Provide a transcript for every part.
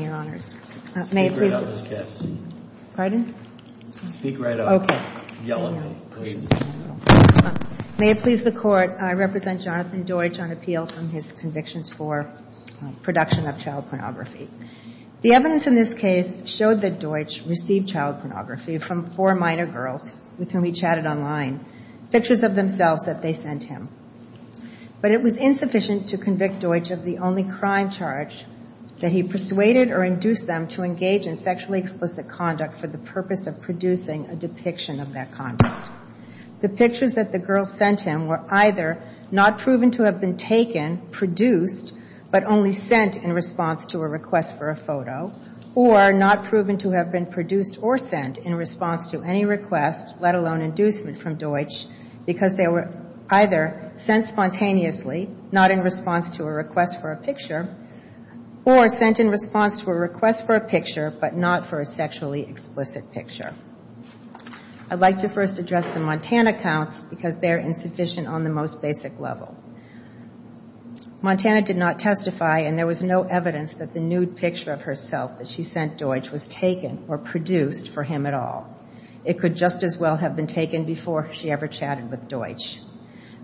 May it please the Court, I represent Jonathan Deutsch on appeal from his convictions for production of child pornography. The evidence in this case showed that Deutsch received child pornography from four minor girls with whom he chatted online, pictures of themselves that they sent him. But it was insufficient to convict Deutsch of the only crime charge that he persuaded or induced them to engage in sexually explicit conduct for the purpose of producing a depiction of that conduct. The pictures that the girls sent him were either not proven to have been taken, produced, but only sent in response to a request for a photo, or not proven to have been produced or sent in response to any request, let alone inducement from Deutsch, because they were either sent spontaneously, not in response to a request for a picture, or sent in response to a request for a picture, but not for a sexually explicit picture. I'd like to first address the Montana counts, because they're insufficient on the most basic level. Montana did not testify, and there was no evidence that the nude picture of herself that she sent Deutsch was taken or produced for him at all. It could just as well have been taken before she ever chatted with Deutsch.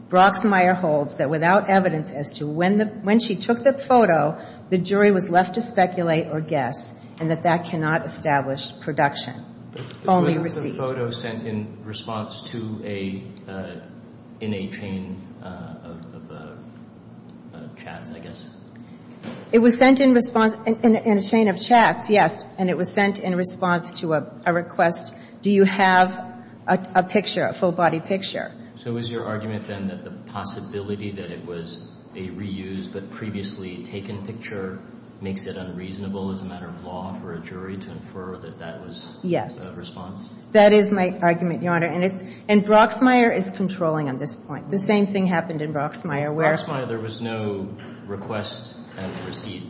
Broxmeyer holds that without evidence as to when she took the photo, the jury was left to speculate or guess, and that that cannot establish production. Only receipt. But wasn't the photo sent in response to a, in a chain of chats, I guess? It was sent in response, in a chain of chats, yes. And it was sent in response to a request, do you have a picture, a full-body picture? So is your argument, then, that the possibility that it was a reused but previously taken picture makes it unreasonable as a matter of law for a jury to infer that that was a response? Yes. That is my argument, Your Honor. And it's, and Broxmeyer is controlling on this point. The same thing happened in Broxmeyer, where... Broxmeyer, there was no request and receipt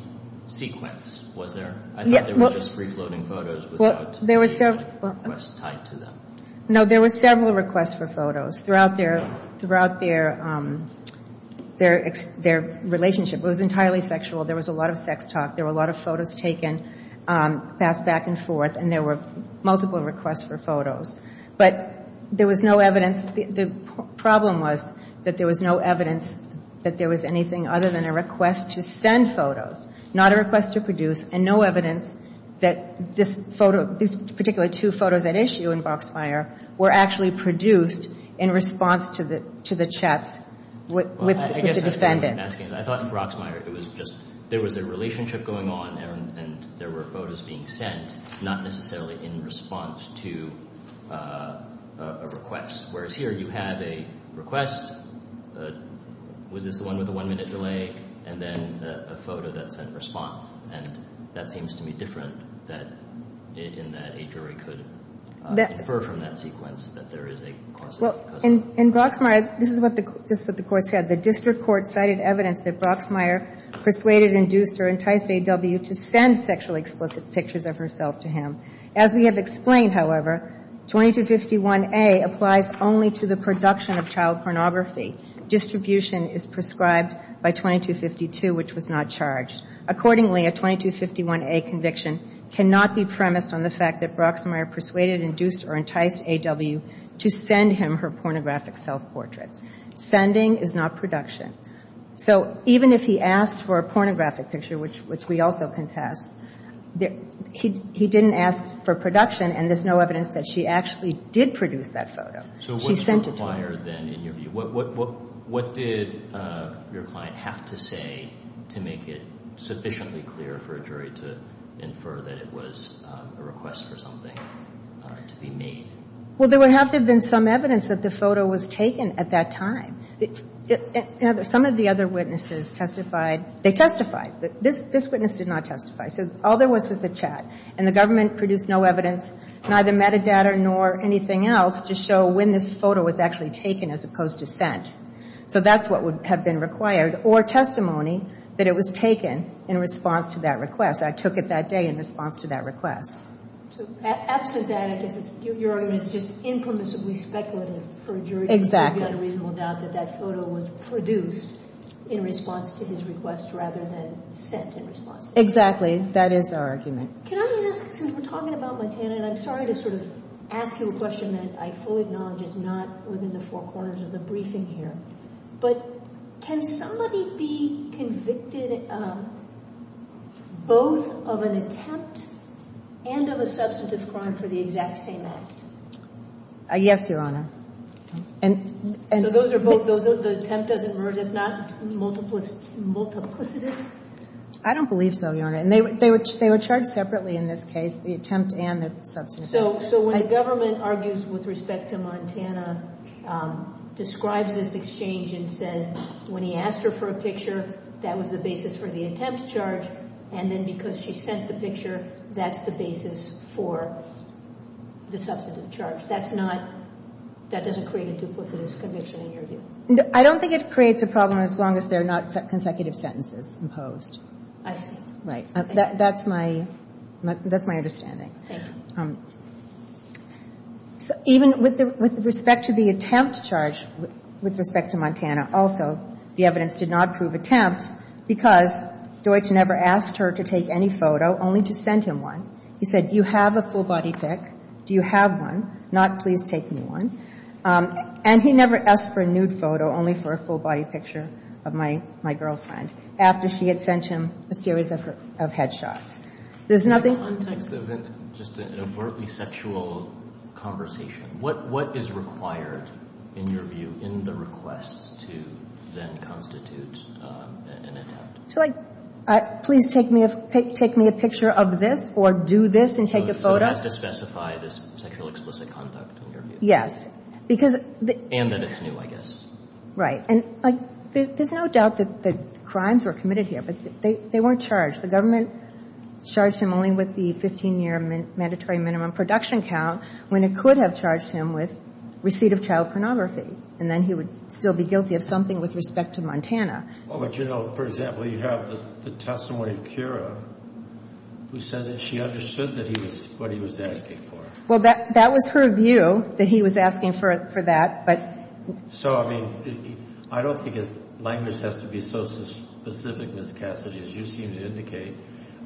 sequence, was there? I thought there was just free-floating photos without a request tied to them. No, there were several requests for photos throughout their relationship. It was entirely sexual. There was a lot of sex talk. There were a lot of photos taken, passed back and forth, and there were multiple requests for photos. But there was no evidence. The problem was that there was no evidence that there was anything other than a request to send that this photo, these particular two photos at issue in Broxmeyer, were actually produced in response to the chats with the defendant. I guess that's what I'm asking. I thought in Broxmeyer it was just, there was a relationship going on and there were photos being sent, not necessarily in response to a request. Whereas here, you have a request, was this the one with a one-minute delay, and then a photo that sent response. And that seems to me different in that a jury could infer from that sequence that there is a cause of it. Well, in Broxmeyer, this is what the court said. The district court cited evidence that Broxmeyer persuaded, induced, or enticed A.W. to send sexually explicit pictures of herself to him. As we have explained, however, 2251A applies only to the production of child pornography. Distribution is prescribed by 2252, which was not charged. Accordingly, a 2251A conviction cannot be premised on the fact that Broxmeyer persuaded, induced, or enticed A.W. to send him her pornographic self-portraits. Sending is not production. So even if he asked for a pornographic picture, which we also contest, he didn't ask for production and there's no evidence that she actually did produce that photo. She sent it to him. In Broxmeyer, then, in your view, what did your client have to say to make it sufficiently clear for a jury to infer that it was a request for something to be made? Well, there would have to have been some evidence that the photo was taken at that time. Some of the other witnesses testified. They testified. This witness did not testify. So all there was was the chat. And the government produced no evidence, neither metadata nor anything else, to show when this photo was actually taken as opposed to sent. So that's what would have been required. Or testimony that it was taken in response to that request. I took it that day in response to that request. So absent that, I guess your argument is just impremisively speculative for a jury to have a reasonable doubt that that photo was produced in response to his request rather than sent in response to his request. Exactly. That is our argument. Can I ask, since we're talking about Montana, and I'm sorry to sort of ask you a question that I fully acknowledge is not within the four corners of the briefing here, but can somebody be convicted both of an attempt and of a substantive crime for the exact same act? Yes, Your Honor. So the attempt doesn't emerge as not multiplicitous? I don't believe so, Your Honor. And they were charged separately in this case, the attempt and the substantive. So when the government argues with respect to Montana, describes this exchange and says when he asked her for a picture, that was the basis for the attempt charge, and then because she sent the picture, that's the basis for the substantive charge. That's not — that doesn't create a duplicitous conviction in your view? I don't think it creates a problem as long as they're not consecutive sentences imposed. I see. Right. That's my — that's my understanding. Thank you. So even with respect to the attempt charge with respect to Montana, also the evidence did not prove attempt because Deutsch never asked her to take any photo, only to send him one. He said, do you have a full body pic? Do you have one? Not please take me one. And he never asked for a nude photo, only for a full body picture of my — my girlfriend after she had sent him a series of her — of head shots. There's nothing — In the context of just an overtly sexual conversation, what — what is required in your view in the request to then constitute an attempt? To like, please take me a — take me a picture of this or do this and take a photo? So it has to specify this sexual explicit conduct in your view? Yes. Because — And that it's new, I guess. Right. And like, there's no doubt that the crimes were committed here, but they weren't charged. The government charged him only with the 15-year mandatory minimum production count when it could have charged him with receipt of child pornography. And then he would still be guilty of something with respect to Montana. Well, but you know, for example, you have the testimony of Kira, who said that she understood that he was — what he was asking for. Well, that — that was her view, that he was asking for — for that. But — So, I mean, I don't think his language has to be so specific, Ms. Cassidy, as you seem to indicate.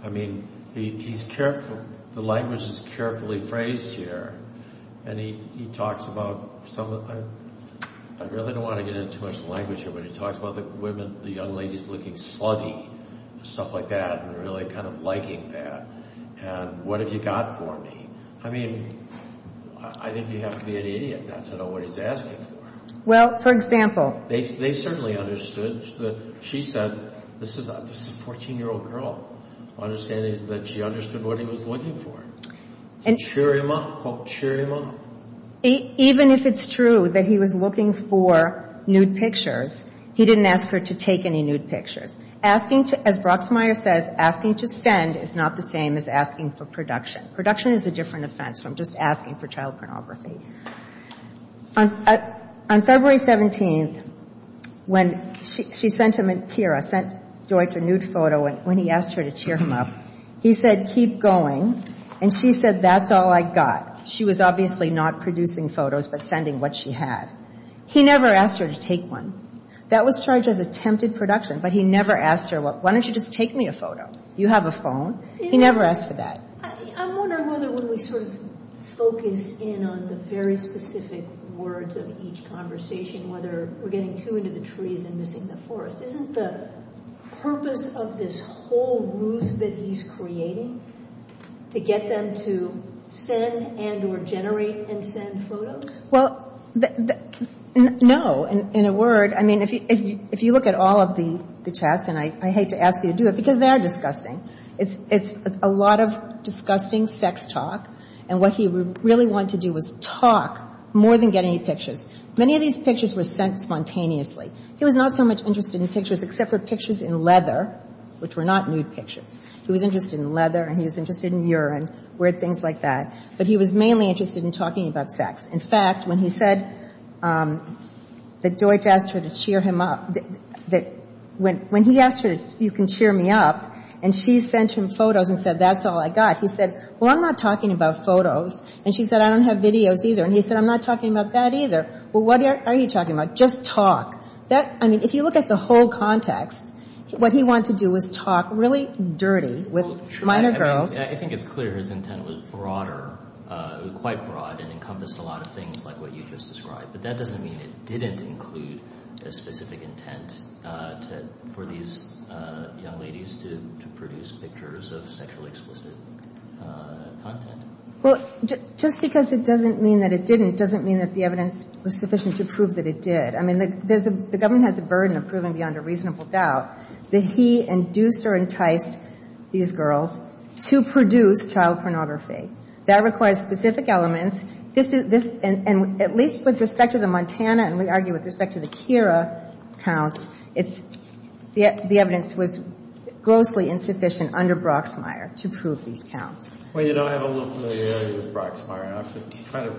I mean, he's careful. The language is carefully phrased here. And he — he talks about some of — I really don't want to get into too much language here, but he talks about the women — the young ladies looking slutty, stuff like that, and really kind of liking that. And, what have you got for me? I mean, I think you have to be an idiot not to know what he's asking for. Well, for example — They certainly understood that — she said, this is a 14-year-old girl, understanding that she understood what he was looking for. And — Cheer him up. Cheer him up. Even if it's true that he was looking for nude pictures, he didn't ask her to take them. To send is not the same as asking for production. Production is a different offense from just asking for child pornography. On February 17th, when she sent him — Kira sent Deutch a nude photo when he asked her to cheer him up, he said, keep going. And she said, that's all I got. She was obviously not producing photos, but sending what she had. He never asked her to take one. That was charged as attempted production, but he never asked her, why don't you just take me a photo? You have a phone. He never asked for that. I'm wondering whether, when we sort of focus in on the very specific words of each conversation, whether we're getting too into the trees and missing the forest, isn't the purpose of this whole ruse that he's creating to get them to send and or generate and send photos? Well, no. In a word, I mean, if you look at all of the chats, and I hate to ask you to do it, because they are disgusting. It's a lot of disgusting sex talk. And what he really wanted to do was talk more than get any pictures. Many of these pictures were sent spontaneously. He was not so much interested in pictures except for pictures in leather, which were not nude pictures. He was interested in leather and he was interested in urine, weird things like that. But he was mainly interested in talking about sex. In fact, when he said that Deutch asked her to cheer him up, that — when he asked her, you can cheer me up, and she sent him photos and said, that's all I got. He said, well, I'm not talking about photos. And she said, I don't have videos either. And he said, I'm not talking about that either. Well, what are you talking about? Just talk. I mean, if you look at the whole context, what he wanted to do was talk really dirty with minor girls. I think it's clear his intent was broader, quite broad, and encompassed a lot of things like what you just described. But that doesn't mean it didn't include a specific intent for these young ladies to produce pictures of sexually explicit content. Well, just because it doesn't mean that it didn't doesn't mean that the evidence was sufficient to prove that it did. I mean, there's a — the government had the burden of proving beyond a reasonable doubt that he induced or enticed these girls to produce child pornography. That requires specific elements. This is — this — and at least with respect to the Montana and we argue with respect to the Kira counts, it's — the evidence was grossly insufficient under Brocksmeier to prove these counts. Well, you know, I have a little familiarity with Brocksmeier. I have to try to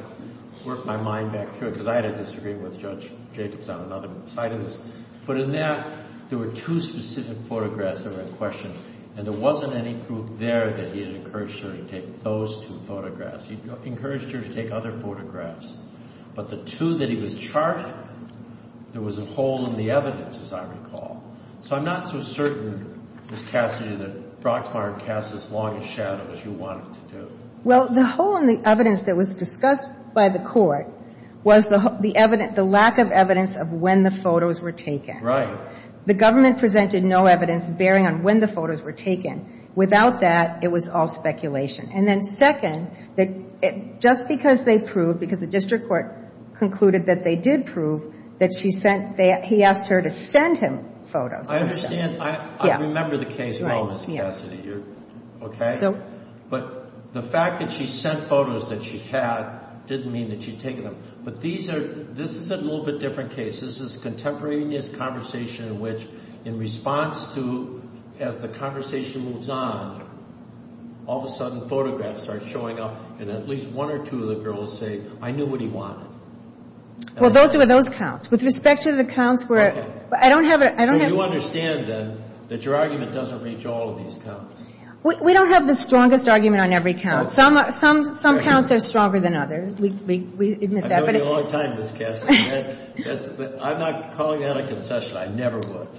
work my mind back through it because I had a disagreement with Judge Jacobs on another side of this. But in that, there were two specific photographs that were in question. And there wasn't any proof there that he had encouraged her to take those two photographs. He encouraged her to take other photographs. But the two that he was charged with, there was a hole in the evidence, as I recall. So I'm not so certain, Ms. Cassidy, that Brocksmeier cast as long a shadow as you wanted to do. Well, the hole in the evidence that was discussed by the Court was the — the lack of evidence of when the photos were taken. Right. The government presented no evidence bearing on when the photos were taken. Without that, it was all speculation. And then second, just because they proved — because the district court concluded that they did prove that she sent — he asked her to send him photos. I understand. I remember the case well, Ms. Cassidy. Right. Okay? So — But the fact that she sent photos that she had didn't mean that she'd taken them. But these are — this is a little bit different case. This is contemporaneous conversation in which, in response to — as the conversation moves on, all of a sudden photographs start showing up, and at least one or two of the girls say, I knew what he wanted. Well, those were those counts. With respect to the counts where — Okay. I don't have — So you understand, then, that your argument doesn't reach all of these counts? We don't have the strongest argument on every count. Some counts are stronger than others. We admit that. I've known you a long time, Ms. Cassidy. That's — I'm not calling that a concession. I never would.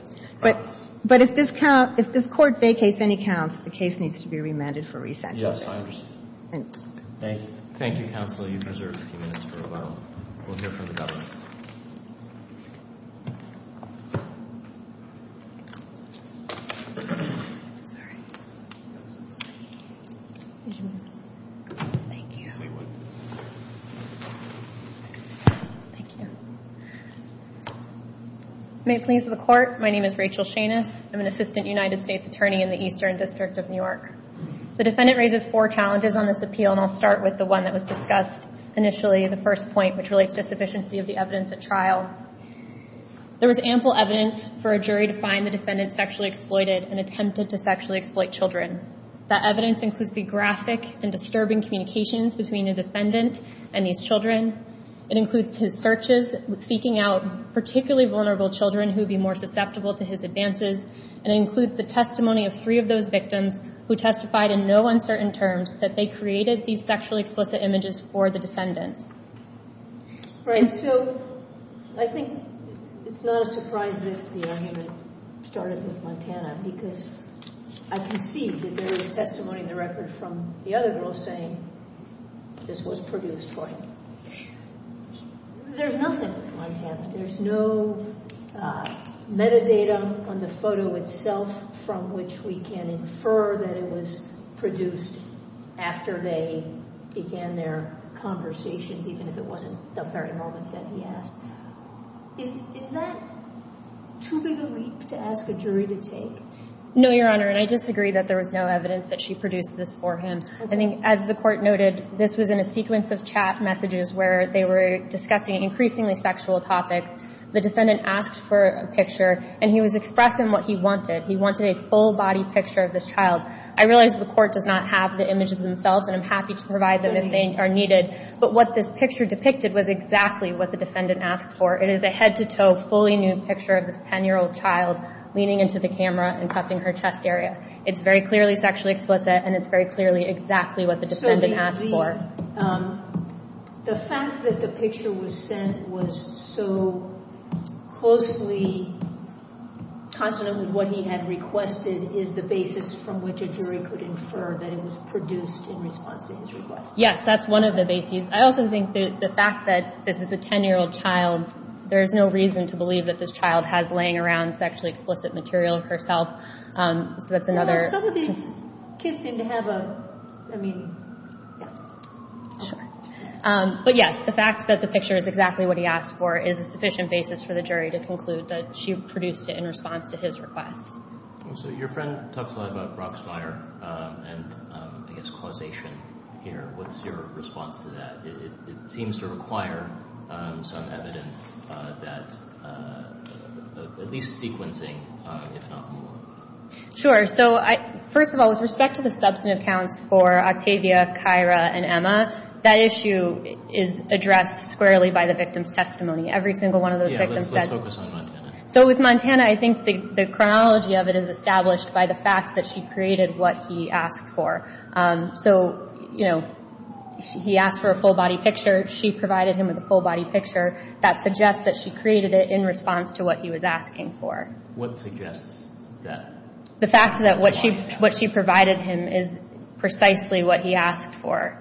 But if this count — if this court vacates any counts, the case needs to be remanded for re-sentencing. Yes, I understand. Thank you. Thank you, counsel. You've reserved a few minutes for rebuttal. We'll hear from the government. Thank you. Yes, we would. Thank you. May it please the Court, my name is Rachel Shanus. I'm an assistant United States attorney in the Eastern District of New York. The defendant raises four challenges on this appeal, and I'll start with the one that was discussed initially, the first point, which relates to sufficiency of the evidence at trial. There was ample evidence for a jury to find the defendant sexually exploited and attempted to sexually exploit children. That evidence includes the graphic and disturbing communications between the defendant and these children. It includes his searches, seeking out particularly vulnerable children who would be more susceptible to his advances. And it includes the testimony of three of those victims who testified in no uncertain terms that they created these sexually explicit images for the defendant. Right. So, I think it's not a surprise that the argument started with Montana because I can see that there is testimony in the record from the other girls saying this was produced for him. There's nothing with Montana. There's no metadata on the photo itself from which we can infer that it was produced after they began their conversations even if it wasn't the very moment that he asked. Is that too big a leap to ask a jury to take? No, Your Honor, and I disagree that there was no evidence that she produced this for him. I think, as the Court noted, this was in a sequence of chat messages where they were discussing increasingly sexual topics. The defendant asked for a picture, and he was expressing what he wanted. He wanted a full-body picture of this child. I realize the Court does not have the images themselves, and I'm happy to provide them if they are needed. But what this picture depicted was exactly what the defendant asked for. It is a head-to-toe, fully nude picture of this 10-year-old child leaning into the camera and cuffing her chest area. It's very clearly sexually explicit, and it's very clearly exactly what the defendant asked for. So, the fact that the picture was sent was so closely consonant with what he had requested is the basis from which a jury could infer that it was produced in response to his request? Yes, that's one of the bases. I also think that the fact that this is a 10-year-old child, there's no reason to believe that this child has laying around sexually explicit material herself. So, that's another... Some of these kids seem to have a meaning. Sure. But, yes, the fact that the picture is exactly what he asked for is a sufficient basis for the jury to conclude that she produced it in response to his request. So, your friend talks a lot about Brock's Meyer and, I guess, causation here. What's your response to that? It seems to require some evidence that at least sequencing, if not more. Sure. So, first of all, with respect to the substantive counts for Octavia, Kyra, and Emma, that issue is addressed squarely by the victim's testimony. Every single one of those victims said... Yeah, let's focus on Montana. So, with Montana, I think the chronology of it is established by the fact that she created what he asked for. So, you know, he asked for a full-body picture. She provided him with a full-body picture. That suggests that she created it in response to what he was asking for. What suggests that? The fact that what she provided him is precisely what he asked for.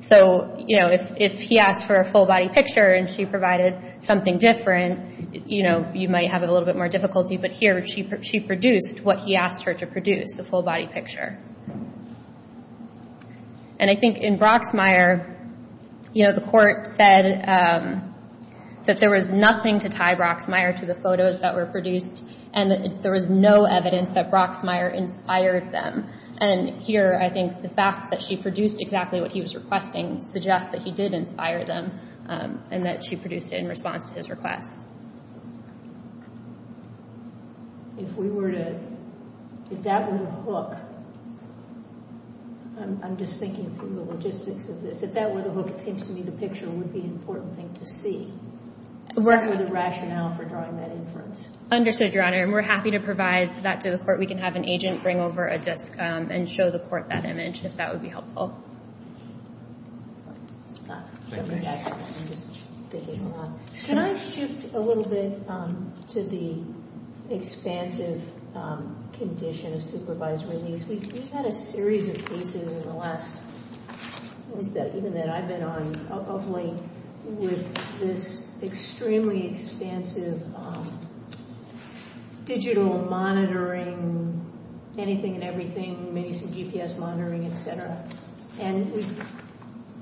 So, you know, if he asked for a full-body picture and she provided something different, you know, you might have a little bit more difficulty. But here, she produced what he asked her to produce, a full-body picture. And I think in Brock's Meyer, you know, the court said that there was nothing to tie Brock's Meyer to the photos that were produced and that there was no evidence that Brock's Meyer inspired them. And here, I think the fact that she produced exactly what he was requesting suggests that he did inspire them and that she produced it in response to his request. If we were to... If that were the hook... I'm just thinking through the logistics of this. If that were the hook, it seems to me the picture would be an important thing to see. Work with a rationale for drawing that inference. Understood, Your Honor. And we're happy to provide that to the court. We can have an agent bring over a disc and show the court that image, if that would be helpful. Thank you. Can I shift a little bit to the expansive condition of supervisory needs? We've had a series of cases in the last... even that I've been on, of late, with this extremely expansive digital monitoring, anything and everything, maybe some GPS monitoring, et cetera. And we've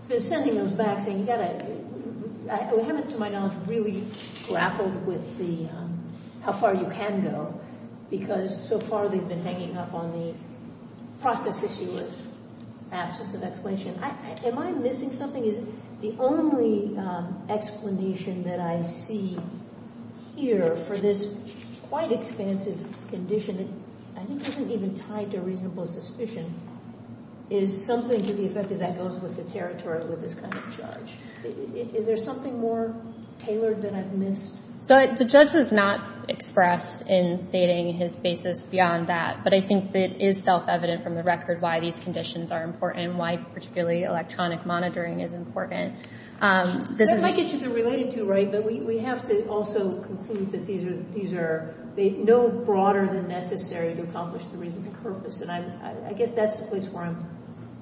been sending those back saying, we haven't, to my knowledge, really grappled with how far you can go because so far they've been hanging up on the process issue of absence of explanation. Am I missing something? Is the only explanation that I see here for this quite expansive condition that I think isn't even tied to a reasonable suspicion is something to be expected that goes with the territory with this kind of charge. Is there something more tailored that I've missed? So the judge does not express in stating his basis beyond that. But I think that it is self-evident from the record why these conditions are important and why particularly electronic monitoring is important. That might get you to relate it to, right? But we have to also conclude that these are... they're no broader than necessary to accomplish the reasonable purpose. And I guess that's the place where I'm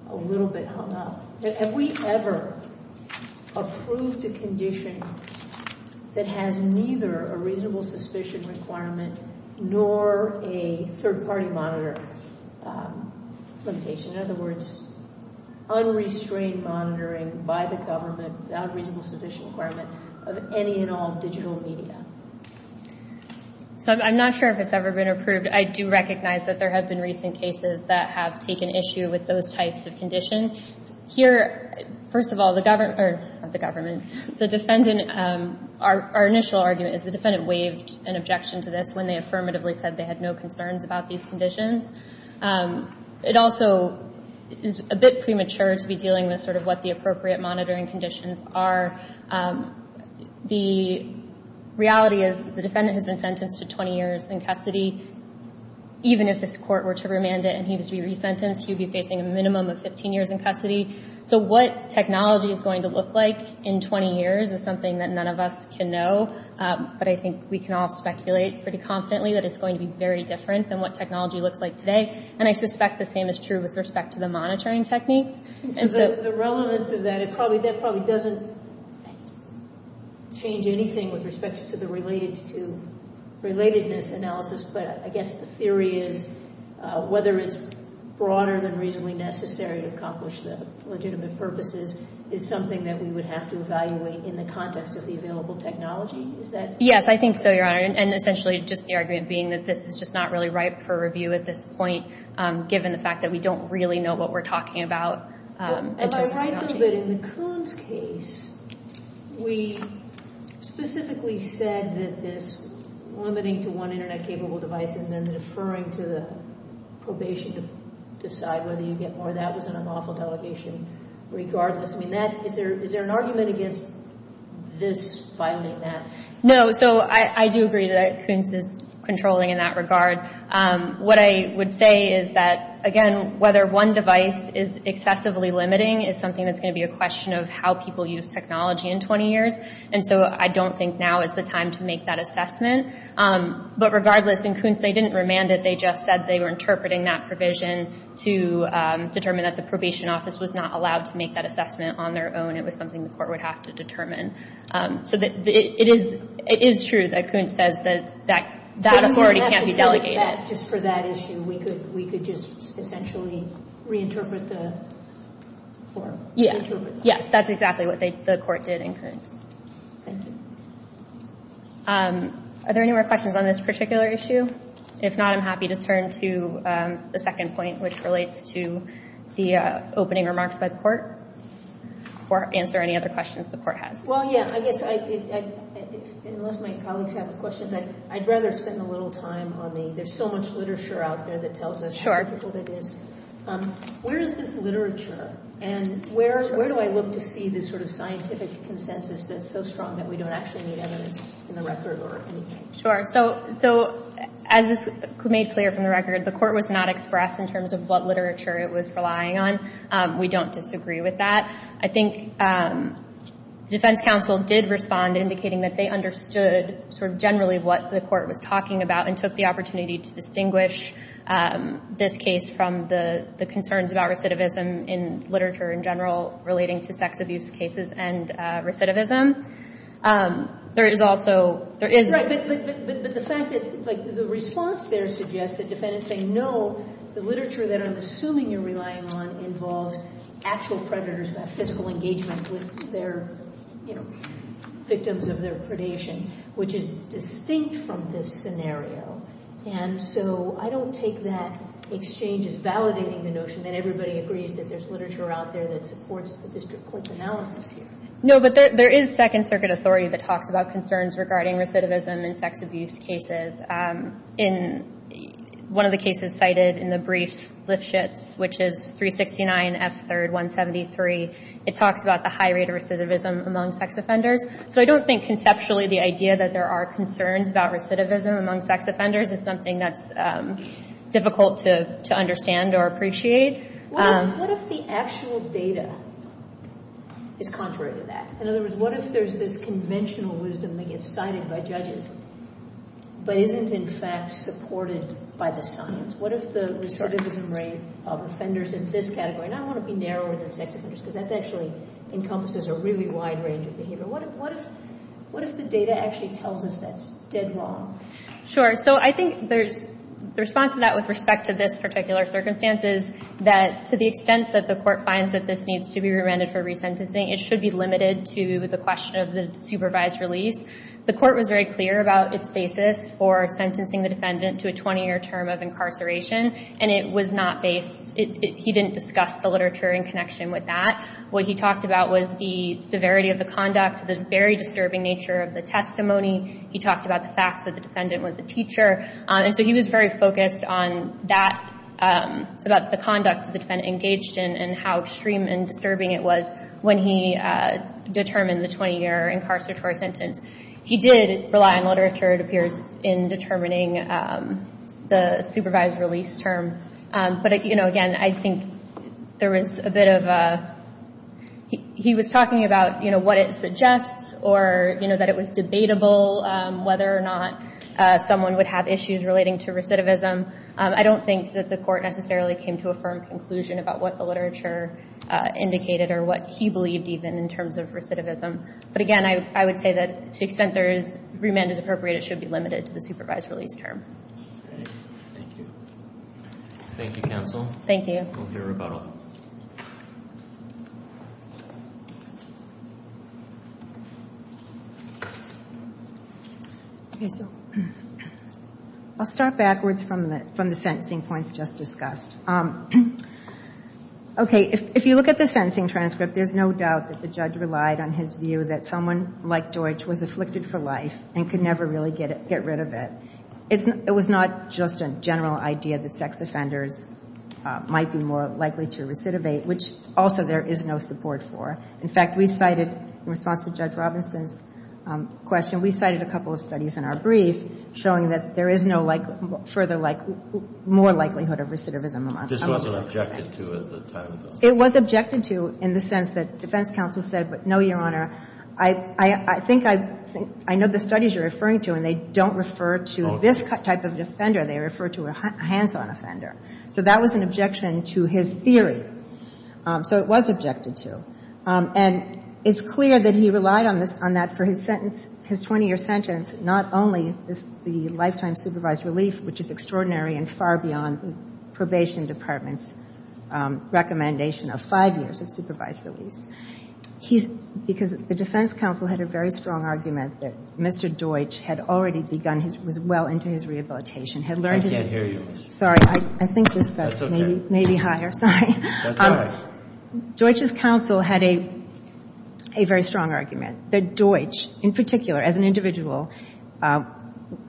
a little bit hung up. Have we ever approved a condition that has neither a reasonable suspicion requirement nor a third-party monitor limitation? In other words, unrestrained monitoring by the government without a reasonable suspicion requirement of any and all digital media. So I'm not sure if it's ever been approved. I do recognize that there have been recent cases that have taken issue with those types of conditions. Here, first of all, the government... not the government, the defendant... our initial argument is the defendant waived an objection to this when they affirmatively said they had no concerns about these conditions. It also is a bit premature to be dealing with sort of what the appropriate monitoring conditions are. The reality is the defendant has been sentenced to 20 years in custody. Even if this court were to remand it and he was to be resentenced, he would be facing a minimum of 15 years in custody. So what technology is going to look like in 20 years is something that none of us can know. But I think we can all speculate pretty confidently that it's going to be very different than what technology looks like today. And I suspect the same is true with respect to the monitoring techniques. And so... The relevance of that... that probably doesn't change anything with respect to the relatedness analysis. But I guess the theory is whether it's broader than reasonably necessary to accomplish the legitimate purposes is something that we would have to evaluate in the context of the available technology. Is that... Yes, I think so, Your Honor. And essentially just the argument being that this is just not really ripe for review at this point given the fact that we don't really know what we're talking about in terms of technology. Am I right, though, that in the Coons case we specifically said that this limiting to one Internet-capable device and then deferring to the probation to decide whether you get more of that was an unlawful delegation regardless? I mean, is there an argument against this finding that? No. So I do agree that Coons is controlling in that regard. What I would say is that, again, whether one device is excessively limiting is something that's going to be a question of how people use technology in 20 years. And so I don't think now is the time to make that assessment. But regardless, in Coons they didn't remand it. They just said they were interpreting that provision to determine that the probation office was not allowed to make that assessment on their own. It was something the court would have to determine. So it is true that Coons says that that authority can't be delegated. Just for that issue, we could just essentially reinterpret the form? Yeah. Yes, that's exactly what the court did in Coons. Thank you. Are there any more questions on this particular issue? If not, I'm happy to turn to the second point which relates to the opening remarks by the court or answer any other questions the court has. Well, yeah. I guess, unless my colleagues have questions, I'd rather spend a little time on the there's so much literature out there that tells us how difficult it is. Where is this literature? And where do I look to see this sort of scientific consensus that's so strong that we don't actually need evidence in the record or anything? Sure. So, as is made clear from the record, the court was not expressed in terms of what literature it was relying on. We don't disagree with that. I think the defense counsel did respond indicating that they understood sort of generally what the court was talking about and took the opportunity to distinguish this case from the concerns about recidivism in literature in general relating to sex abuse cases and recidivism. There is also... Right, but the fact that the response there suggests the defendants say no, the literature that I'm assuming you're relying on involves actual predators who have physical engagement with their victims of their predation which is distinct from this scenario. And so, I don't take that exchange as validating the notion that everybody agrees that there's literature out there that supports the district court's analysis here. No, but there is second circuit authority that talks about concerns regarding recidivism in sex abuse cases. In one of the cases cited in the briefs, Lifshitz, which is 369 F. 3rd 173, it talks about the high rate of recidivism among sex offenders. So, I don't think conceptually the idea that there are concerns about recidivism among sex offenders is something that's difficult to understand or appreciate. What if the actual data is contrary to that? In other words, what if there's this conventional wisdom that gets cited by judges but isn't in fact supported by the science? What if the recidivism rate of offenders in this category, and I don't want to be narrower than sex offenders because that actually encompasses a really wide range of behavior. What if the data actually tells us that's dead wrong? Sure. So, I think the response to that with respect to this particular circumstance is that to the extent that the court finds that this needs to be remanded for resentencing, it should be limited to the question of the supervised release. The court was very clear about its basis for sentencing the defendant to a 20-year term of incarceration and it was not based, he didn't discuss the literature in connection with that. What he talked about was the severity of the conduct, the very disturbing nature of the testimony. He talked about the fact that the defendant was a teacher. And so, he was very focused on that, about the conduct the defendant engaged in and how extreme and disturbing it was when he determined the 20-year incarcerator sentence. He did rely on literature, it appears, in determining the supervised release term. But, again, I think there was a bit of a, he was talking about what it suggests or that it was debatable whether or not someone would have issues relating to recidivism. I don't think that the court necessarily came to a firm conclusion about what the literature indicated or what he believed even in terms of recidivism. But, again, I would say that to the extent there is remand as appropriate it should be limited to the supervised release term. Thank you. Thank you, counsel. Thank you. We'll hear about all of them. I'll start backwards from the sentencing points just discussed. Okay, if you look at the sentencing transcript there's no doubt that the judge relied on his view that someone like Deutsch was afflicted for life and could never really get rid of it. It was not just a general idea that sex offenders might be more likely to recidivate which also there is no support for. In fact, we cited in response to Judge Robinson's question we cited a couple of studies in our brief showing that there is no like further like more likelihood of recidivism among sex offenders. This wasn't objected to at the time? It was objected to in the sense that defense counsel said, no, Your Honor, I think I know the studies you're referring to and they don't refer to this type of offender. They refer to a hands-on offender. So that was an objection to his theory. So it was objected to. And it's clear that he relied on that for his sentence his 20-year sentence not only the lifetime supervised relief which is extraordinary and far beyond the probation department's recommendation of five years of supervised relief. He's because the defense counsel had a very strong argument that Mr. Deutsch had already begun well into his rehabilitation had learned I can't hear you. Sorry. I think this may be higher. Sorry. That's all right. Deutsch's counsel had a very strong argument that Deutsch in particular as an individual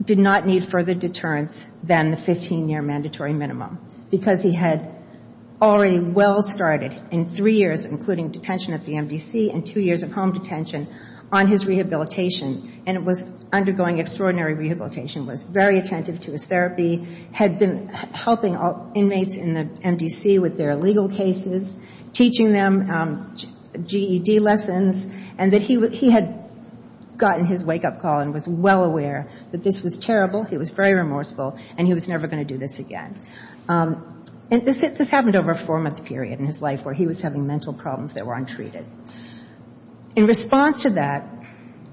did not need further deterrence than the 15-year mandatory minimum because he had already well started in three years including detention at the MDC and two years of home detention on his rehabilitation and was undergoing extraordinary rehabilitation was very attentive to his therapy had been helping inmates in the MDC with their legal cases teaching them GED lessons and that he had gotten his wake-up call and was well aware that this was terrible he was very remorseful and he was never going to do this again. This happened over a four-month period in his life where he was having mental problems that were untreated. In response to that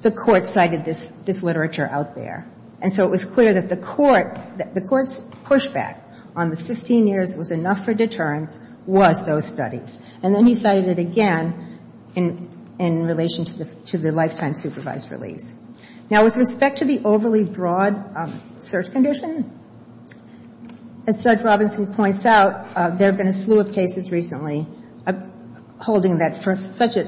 the court cited this literature out there and so it was clear that the court the court's pushback on the 15 years was enough for deterrence was those studies and then he cited it again in relation to the lifetime supervised release. Now with respect to the overly broad search condition as Judge Robinson points out there have been a slew of cases recently holding that for such an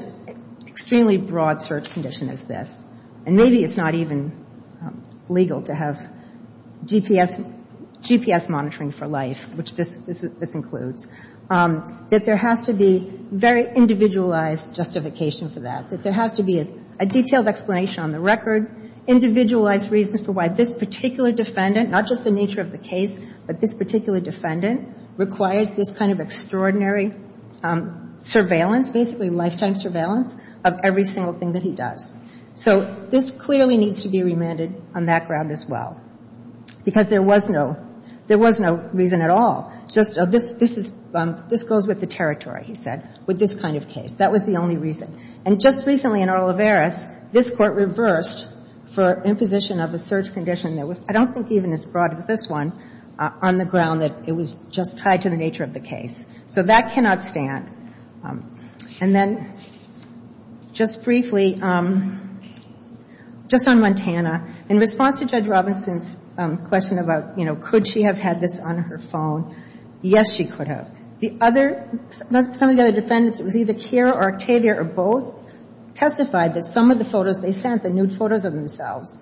extremely broad search condition as this and maybe it's not even legal to have GPS monitoring for life which this includes that there has to be very individualized justification for that that there has to be a detailed explanation on the record individualized reasons for why this particular defendant not just the nature of the case but this particular defendant requires this kind of extraordinary surveillance basically lifetime surveillance of every single thing that he does so this clearly needs to be remanded on that ground as well because there was no there was no reason at all just this this goes with the territory he said with this kind of case that was the only reason and just recently in Olivares this court reversed for imposition of a search condition I don't think even as broad as this one on the ground that it was just tied to the nature of the case so that cannot stand and then just briefly just on Montana in response to Judge Robinson's question about you know could she have had this on her phone yes she could have the other some of the other defendants it was either Kira or Octavia or both testified that some of the photos they sent the nude photos of themselves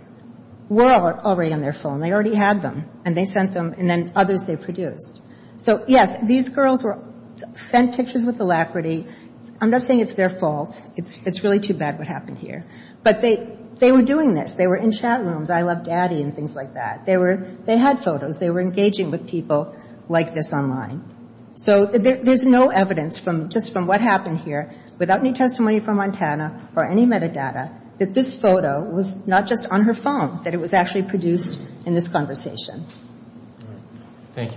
were already on their phone they already had them and they sent them and then others they produced so yes these girls were sent pictures with alacrity I'm not saying it's their fault it's really too bad what happened here but they were doing this they were in chat rooms I love daddy and things like that they were they had photos they were engaging with people like this online so there's no evidence just from what happened here without any testimony from Montana or any metadata that this photo was not just on her phone that it was actually produced in this conversation